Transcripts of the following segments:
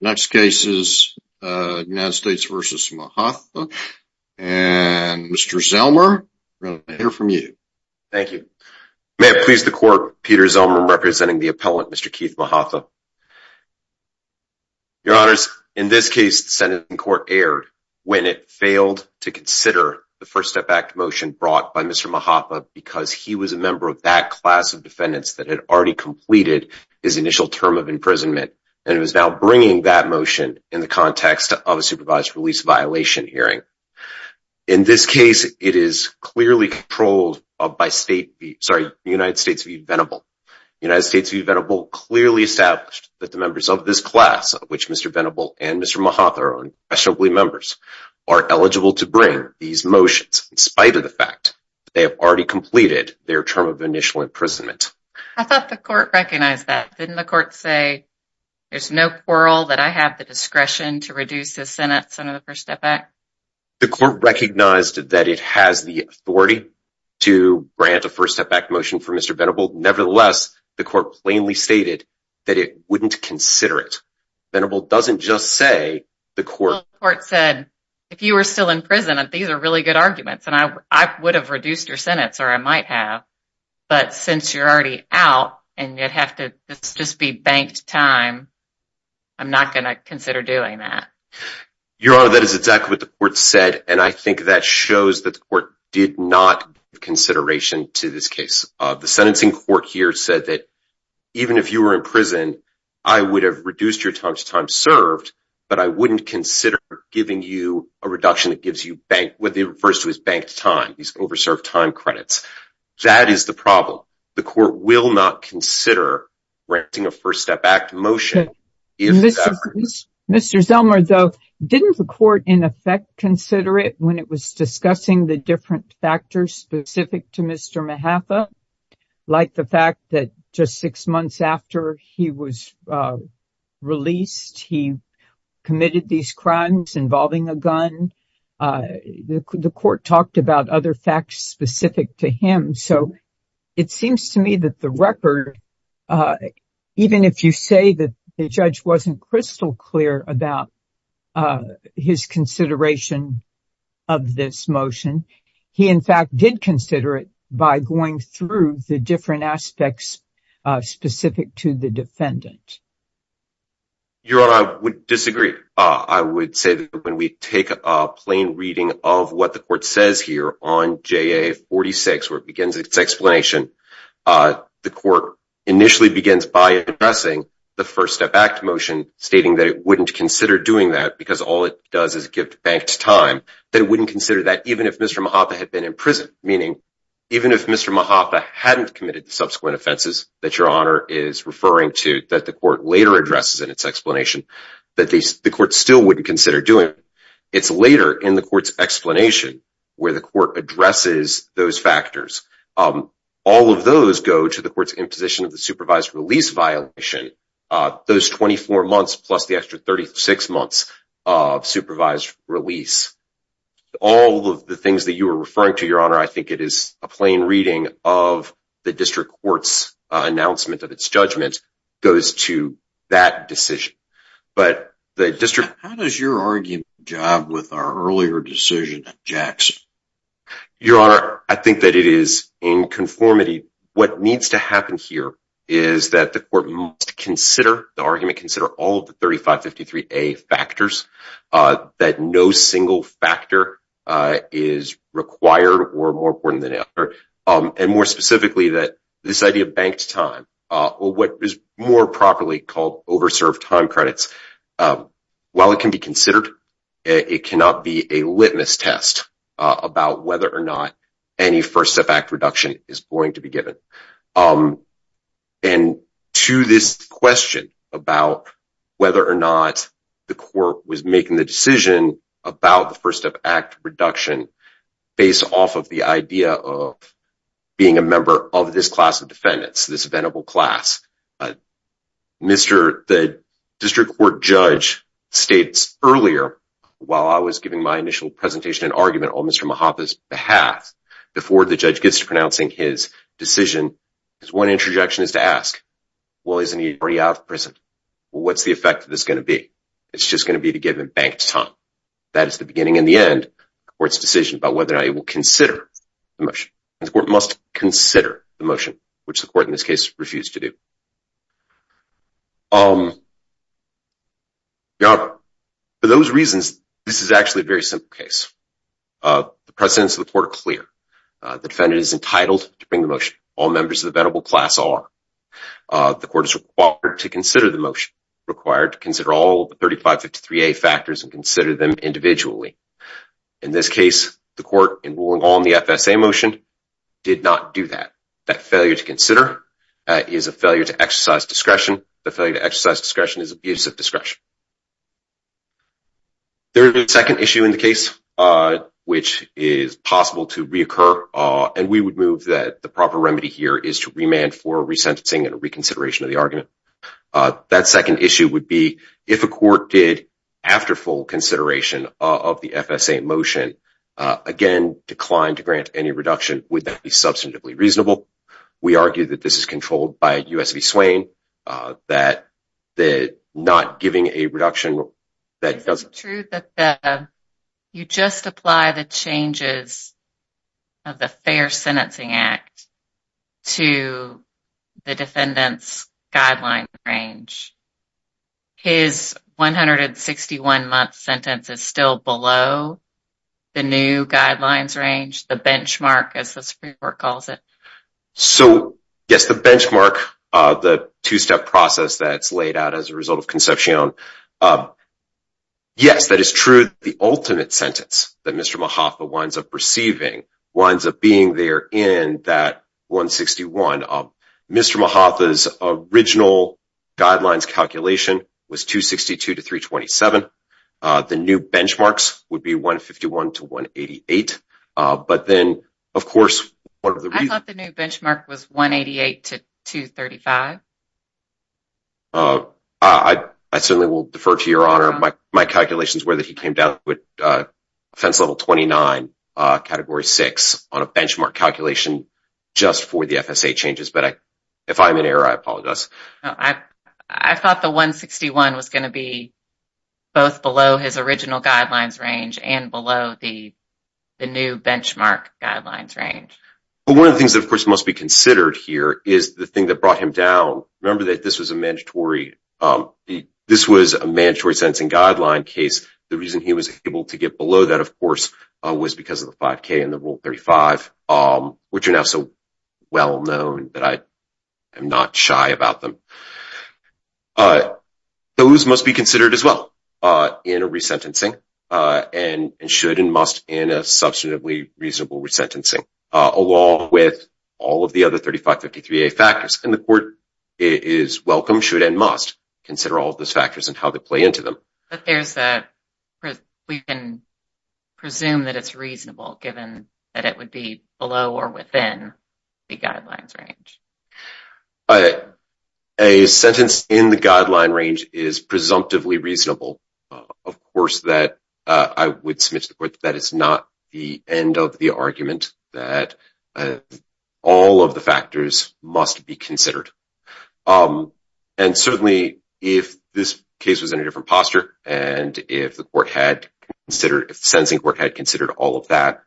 Next case is United States v. Mahatha and Mr. Zellmer, we're going to hear from you. Thank you. May it please the court, Peter Zellmer representing the appellant Mr. Keith Mahatha. Your honors, in this case the Senate in court erred when it failed to consider the First Step Act motion brought by Mr. Mahatha because he was a member of that class of defendants that had already completed his initial term of imprisonment and was now bringing that motion in the context of a supervised release violation hearing. In this case, it is clearly controlled by state, sorry, United States v. Venable. United States v. Venable clearly established that the members of this class, of which Mr. Venable and Mr. Mahatha are unquestionably members, are eligible to bring these motions in spite of the fact they have already completed their term of initial imprisonment. I thought the court recognized that. Didn't the court say, there's no quarrel that I have the discretion to reduce the Senate's under the First Step Act? The court recognized that it has the authority to grant a First Step Act motion for Mr. Venable. Nevertheless, the court plainly stated that it wouldn't consider it. Venable doesn't just say the court said, if you were still in prison, these are really good arguments and I would have reduced your sentence, or I might have, but since you're already out and you'd have to just be banked time, I'm not going to consider doing that. Your Honor, that is exactly what the court said, and I think that shows that the court did not give consideration to this case. The sentencing court here said that even if you were in prison, I would have reduced your time to time served, but I wouldn't consider giving you a reduction that gives you bank, refers to as banked time, these over served time credits. That is the problem. The court will not consider granting a First Step Act motion. Mr. Zellmer though, didn't the court in effect consider it when it was discussing the different factors specific to Mr. Mahaffa, like the fact that just six months after he was released, he committed these crimes involving a gun. The court talked about other facts specific to him, so it seems to me that the record, even if you say that the judge wasn't crystal clear about his consideration of this motion, he in fact did consider it by going through the different aspects specific to the defendant. Your Honor, I would disagree. I would say that when we take a plain reading of what the court says here on JA 46, where it begins its explanation, the court initially begins by addressing the First Step Act motion, stating that it wouldn't consider doing that because all it does is give the bank time. They wouldn't consider that even if Mr. Mahaffa had meaning even if Mr. Mahaffa hadn't committed the subsequent offenses that Your Honor is referring to that the court later addresses in its explanation, that the court still wouldn't consider doing it. It's later in the court's explanation where the court addresses those factors. All of those go to the court's imposition of the supervised release violation, those 24 plus the extra 36 months of supervised release. All of the things that you were referring to, Your Honor, I think it is a plain reading of the district court's announcement of its judgment goes to that decision. How does your argument job with our earlier decision at Jackson? Your Honor, I think that it is in conformity. What needs to happen here is that the court must the argument consider all of the 3553A factors, that no single factor is required or more important than the other, and more specifically that this idea of banked time or what is more properly called overserved time credits, while it can be considered, it cannot be a litmus test about whether or not any First Step Act reduction is going to be given. And to this question about whether or not the court was making the decision about the First Step Act reduction based off of the idea of being a member of this class of defendants, this venerable class, the district court judge states earlier, while I was giving my initial presentation and argument, on Mr. Mahaffa's behalf, before the judge gets to pronouncing his decision, his one interjection is to ask, well, isn't he already out of prison? What's the effect of this going to be? It's just going to be to give him banked time. That is the beginning and the end of the court's decision about whether or not he will consider the motion. The court must consider the motion, which the court in this case refused to do. Your Honor, for those reasons, this is the precedence of the court of clear. The defendant is entitled to bring the motion. All members of the venerable class are. The court is required to consider the motion, required to consider all the 3553A factors and consider them individually. In this case, the court, in ruling on the FSA motion, did not do that. That failure to consider is a failure to exercise discretion. The failure to exercise discretion is abuse of discretion. There is a second issue in the case, which is possible to reoccur, and we would move that the proper remedy here is to remand for resentencing and reconsideration of the argument. That second issue would be if a court did, after full consideration of the FSA motion, again, decline to grant any reduction, would that be substantively reasonable? We argue that this is controlled by a reduction that doesn't. It's true that you just apply the changes of the Fair Sentencing Act to the defendant's guideline range. His 161-month sentence is still below the new guidelines range, the benchmark, as the Supreme Court calls it. So, yes, the benchmark, the two-step process that's laid out as a result of Concepcion, yes, that is true, the ultimate sentence that Mr. Mahaffa winds up receiving winds up being there in that 161. Mr. Mahaffa's original guidelines calculation was 262 to 327. The new benchmarks would be 151 to 188. But then, of course, one of the reasons... I thought the new benchmark was 188 to 235. I certainly will defer to Your Honor. My calculations were that he came down with offense level 29, category 6, on a benchmark calculation just for the FSA changes. But if I'm in error, I apologize. I thought the 161 was going to be both below his original guidelines range and below the new benchmark guidelines range. But one of the things that, of course, must be considered here is the thing that brought him down. Remember that this was a mandatory... this was a mandatory sentencing guideline case. The reason he was able to get below that, of course, was because of the 5K and the Rule 35, which are so well known that I am not shy about them. Those must be considered as well in a resentencing and should and must in a substantively reasonable resentencing, along with all of the other 3553A factors. And the court is welcome, should, and must consider all of those factors and how they play into them. But there's that... we can presume that it's reasonable given that it would be below or within the guidelines range. A sentence in the guideline range is presumptively reasonable, of course, that I would submit to the court that is not the end of the argument that all of the factors must be considered. And certainly, if this case was in a different posture and if the court had considered... if the sentencing court had considered all of that,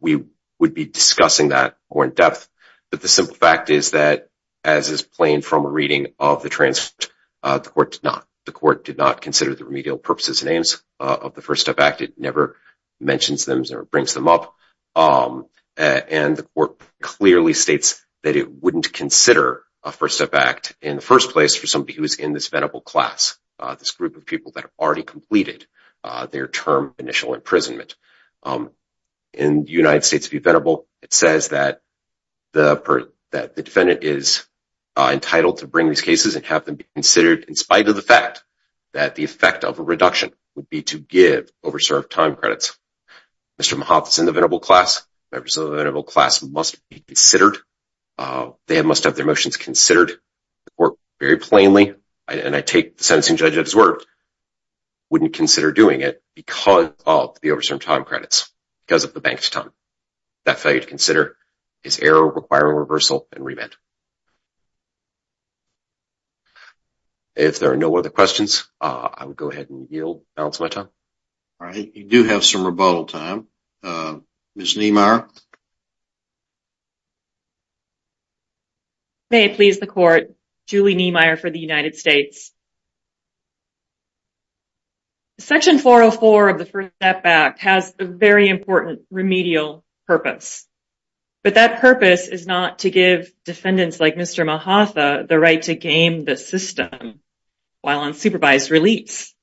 we would be discussing that more in depth. But the simple fact is that, as is plain from a reading of the transcript, the court did not. The court did not consider the remedial purposes and aims of the First Step Act. It never mentions them or brings them up. And the court clearly states that it wouldn't consider a First Step Act in the first place for somebody who's in this venerable class, this group of people that have already completed their term initial imprisonment. In the United States v. Venerable, it says that the defendant is entitled to bring these cases and have them be considered in spite of the fact that the effect of a reduction would be to give overserved time credits. Mr. Mahath is in the venerable class. Members of the venerable class must be considered. They must have their motions considered. The court very plainly, and I take the sentencing judge at his word, wouldn't consider doing it because of the overserved time credits, because of the banked time. That failure to consider is error requiring reversal and remand. If there are no other questions, I will go ahead and yield, balance my time. All right, you do have some rebuttal time. Ms. Niemeyer. May it please the court, Julie Niemeyer for the United States. Section 404 of the First Step Act has a very important remedial purpose. But that purpose is not to give defendants like Mr. Mahath the right to game the system while on supervised release.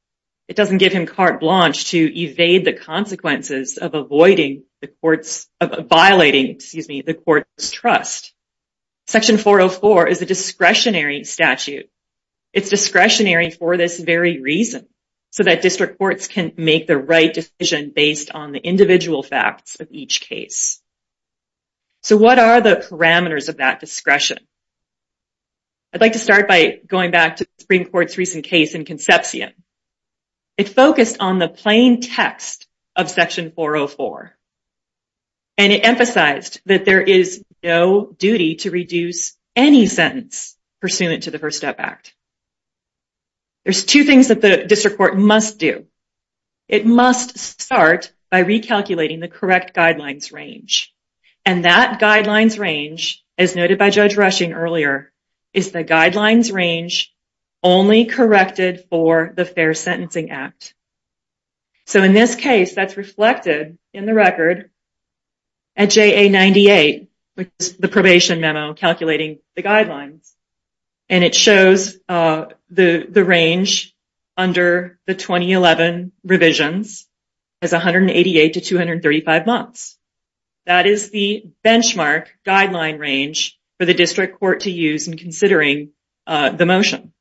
It doesn't give him carte blanche to evade the consequences of avoiding the court's, of violating, excuse me, the court's trust. Section 404 is a discretionary statute. It's discretionary for this very reason, so that district courts can make the right decision based on the individual facts of each case. So what are the parameters of that discretion? I'd like to start by going back to the Supreme Court's recent case in Concepcion. It focused on the plain text of Section 404. And it emphasized that there is no duty to reduce any sentence pursuant to the First Step Act. There's two things that the district court must do. It must start by recalculating the correct guidelines range. And that guidelines range, as noted by Judge Rushing earlier, is the guidelines range only corrected for the Fair Sentencing Act. So in this case, that's reflected in the record at JA 98, which is the probation memo calculating the guidelines. And it shows the range under the 2011 revisions as 188 to 235 months. That is the benchmark guideline range for the district court to use in considering the motion.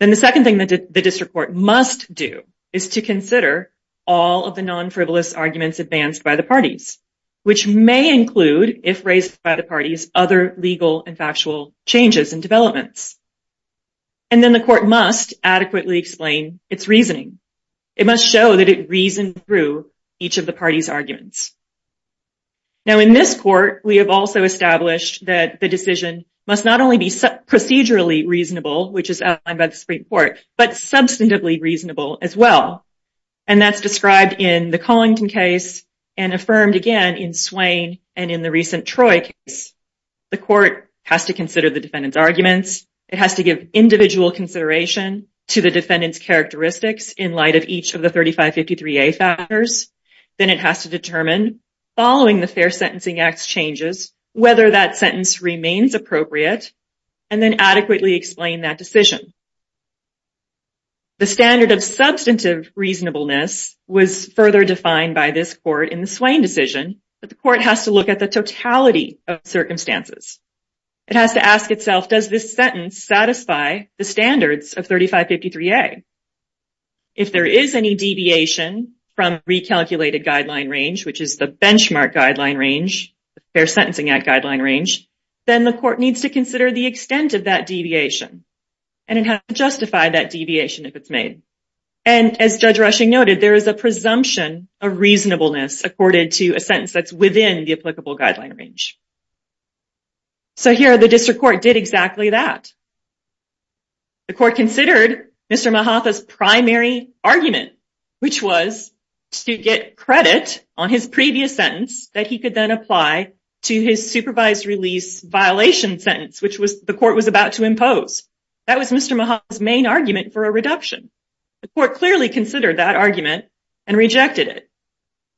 Then the second thing that the district court must do is to consider all of the non-frivolous arguments advanced by the parties, which may include, if raised by the parties, other legal and factual changes and developments. And then the court must adequately explain its reasoning. It must show that it reasoned through each of the parties' arguments. Now in this court, we have also established that the decision must not only be procedurally reasonable, which is outlined by the Supreme Court, but substantively reasonable as well. And that's described in the Collington case and affirmed again in Swain and in the recent Troy case. The court has to consider the defendant's arguments. It has to give individual consideration to the defendant's characteristics in light of each of the 3553A factors. Then it has to determine, following the Fair Sentencing Act's changes, whether that sentence remains appropriate, and then adequately explain that decision. The standard of substantive reasonableness was further defined by this court in the Swain decision, but the court has to look at the totality of circumstances. It has to ask itself, does this sentence satisfy the standards of 3553A? If there is any deviation from recalculated guideline range, which is the benchmark guideline range, the Fair Sentencing Act guideline range, then the court needs to consider the extent of that deviation. And it has to justify that deviation if it's made. And as Judge Rushing noted, there is a presumption of reasonableness according to a sentence that's within the The court considered Mr. Mahaffa's primary argument, which was to get credit on his previous sentence that he could then apply to his supervised release violation sentence, which the court was about to impose. That was Mr. Mahaffa's main argument for a reduction. The court clearly considered that argument and rejected it.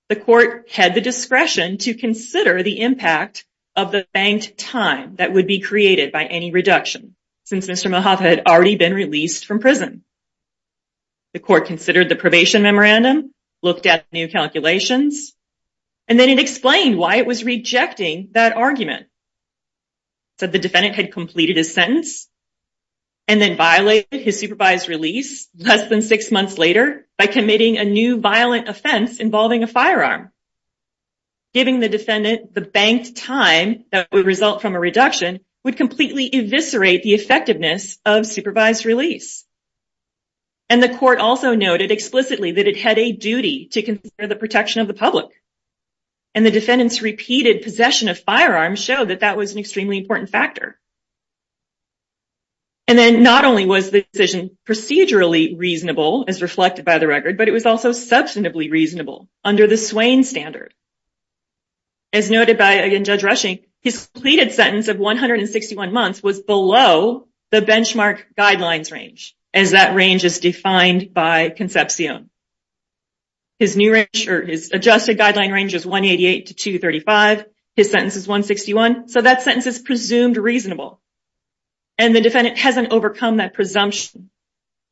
The court had the discretion to consider the impact of the banked time that would be created by any reduction, since Mr. Mahaffa had already been released from prison. The court considered the probation memorandum, looked at new calculations, and then it explained why it was rejecting that argument. It said the defendant had completed his sentence and then violated his supervised release less than six months later by committing a new violent offense involving a firearm. Giving the defendant the banked time that would result from a reduction would completely eviscerate the effectiveness of supervised release. And the court also noted explicitly that it had a duty to consider the protection of the public. And the defendant's repeated possession of firearms showed that that was an extremely important factor. And then not only was the decision procedurally reasonable, as reflected by the record, but it was also substantively reasonable under the Swain Standard. As noted by Judge Rushing, his pleaded sentence of 161 months was below the benchmark guidelines range, as that range is defined by Concepcion. His adjusted guideline range is 188 to 235. His sentence is 161. So that sentence is presumed reasonable. And the defendant hasn't overcome that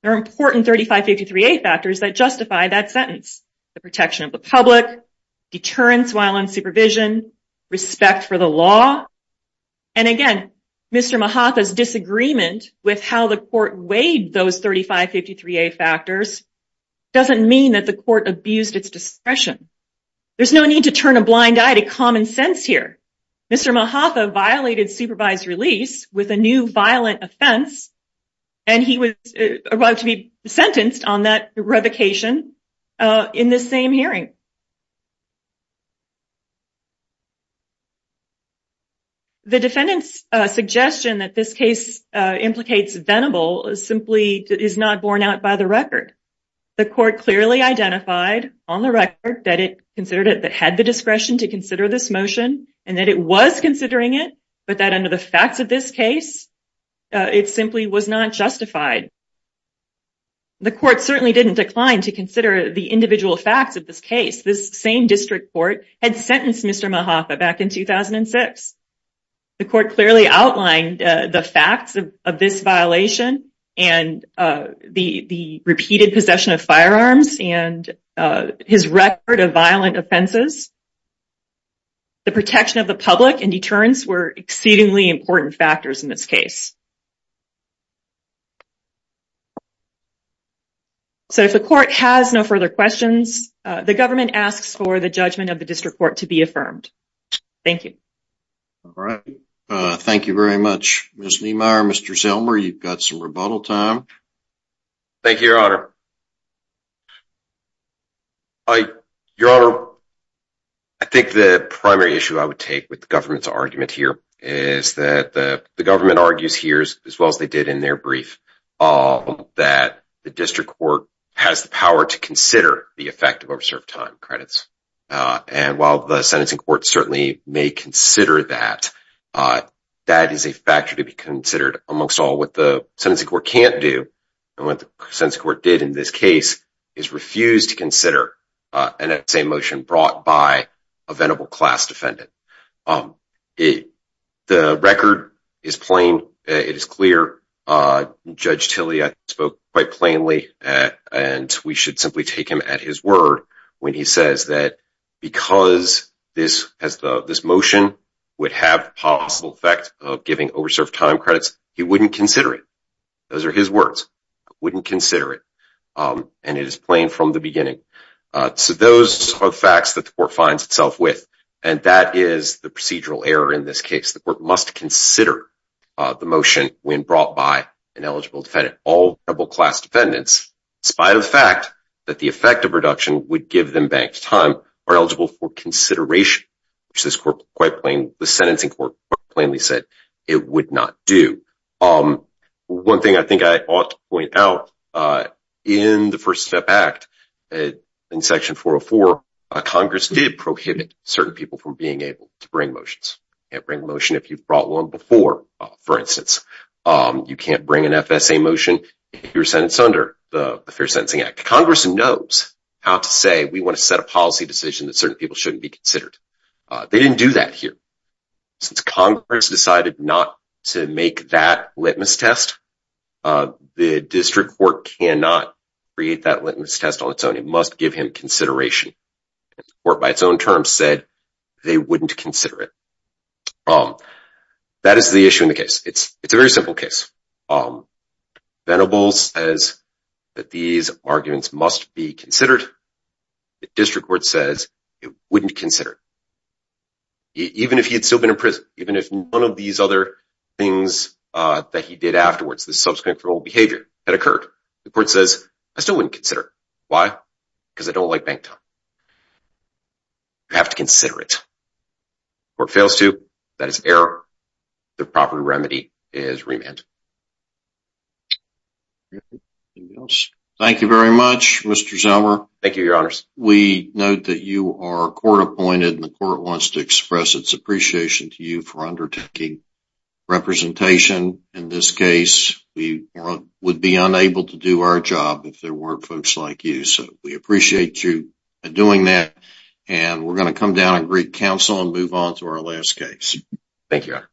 that justified that sentence. The protection of the public, deterrence while on supervision, respect for the law. And again, Mr. Mahaffa's disagreement with how the court weighed those factors doesn't mean that the court abused its discretion. There's no need to turn a blind eye to common sense here. Mr. Mahaffa violated supervised release with a new violent offense, and he was about to be sentenced on that revocation in this same hearing. The defendant's suggestion that this case implicates venable simply is not borne out by the record. The court clearly identified on the record that it considered it that had the discretion to consider this motion and that it was considering it, but that under the facts of this case, it simply was not justified. The court certainly didn't decline to consider the individual facts of this case. This same district court had sentenced Mr. Mahaffa back in 2006. The court clearly outlined the facts of this violation and the repeated possession of firearms and his record of violent offenses. The protection of the public and deterrence were exceedingly important factors in this case. So if the court has no further questions, the government asks for the judgment of the district court to be affirmed. Thank you. All right. Thank you very much, Ms. Lehmeyer. Mr. Zellmer, you've got some rebuttal time. Thank you, Your Honor. Your Honor, I think the primary issue I would take with the government's argument here is that the government argues here, as well as they did in their brief, that the district court has the power to consider the effect of overserved time credits. And while the sentencing court certainly may consider that, that is a factor to be considered. Amongst all, what the sentencing court can't do and what the sentencing court did in this case is refuse to consider an essay motion brought by a venerable class defendant. The record is plain. It is clear. Judge Tilley spoke quite plainly, and we should simply take him at his word when he says that because this motion would have the possible effect of giving overserved time credits, he wouldn't consider it. Those are his words. I wouldn't consider it. And it is plain from the beginning. So those are the facts that the court finds itself with, and that is the procedural error in this case. The court must consider the motion when brought by an eligible defendant. All venerable class defendants, in spite of the fact that the effect of reduction would give them banked time, are eligible for consideration, which the sentencing court quite plainly said it would not do. One thing I think I ought to point out, in the First Step Act, in Section 404, Congress did prohibit certain people from being able to bring motions. You can't bring a motion if you brought one before, for instance. You can't bring an FSA motion if you're sentenced under the Fair Sentencing Act. Congress knows how to say, we want to set a policy decision that certain people shouldn't be tested. The district court cannot create that litmus test on its own. It must give him consideration. The court, by its own terms, said they wouldn't consider it. That is the issue in the case. It's a very simple case. Venable says that these arguments must be considered. The district court says it wouldn't consider it, even if he had still been in prison, even if one of these other things that he did afterwards, this subsequent behavioral had occurred. The court says, I still wouldn't consider it. Why? Because I don't like banked time. You have to consider it. The court fails to. That is error. The proper remedy is remand. Thank you very much, Mr. Zellmer. Thank you, Your Honors. We note that you are court appointed, and the court wants to express its appreciation to you for undertaking representation. In this case, we would be unable to do our job if there weren't folks like you, so we appreciate you for doing that. We're going to come down and greet counsel and move on to our last case. Thank you, Your Honor.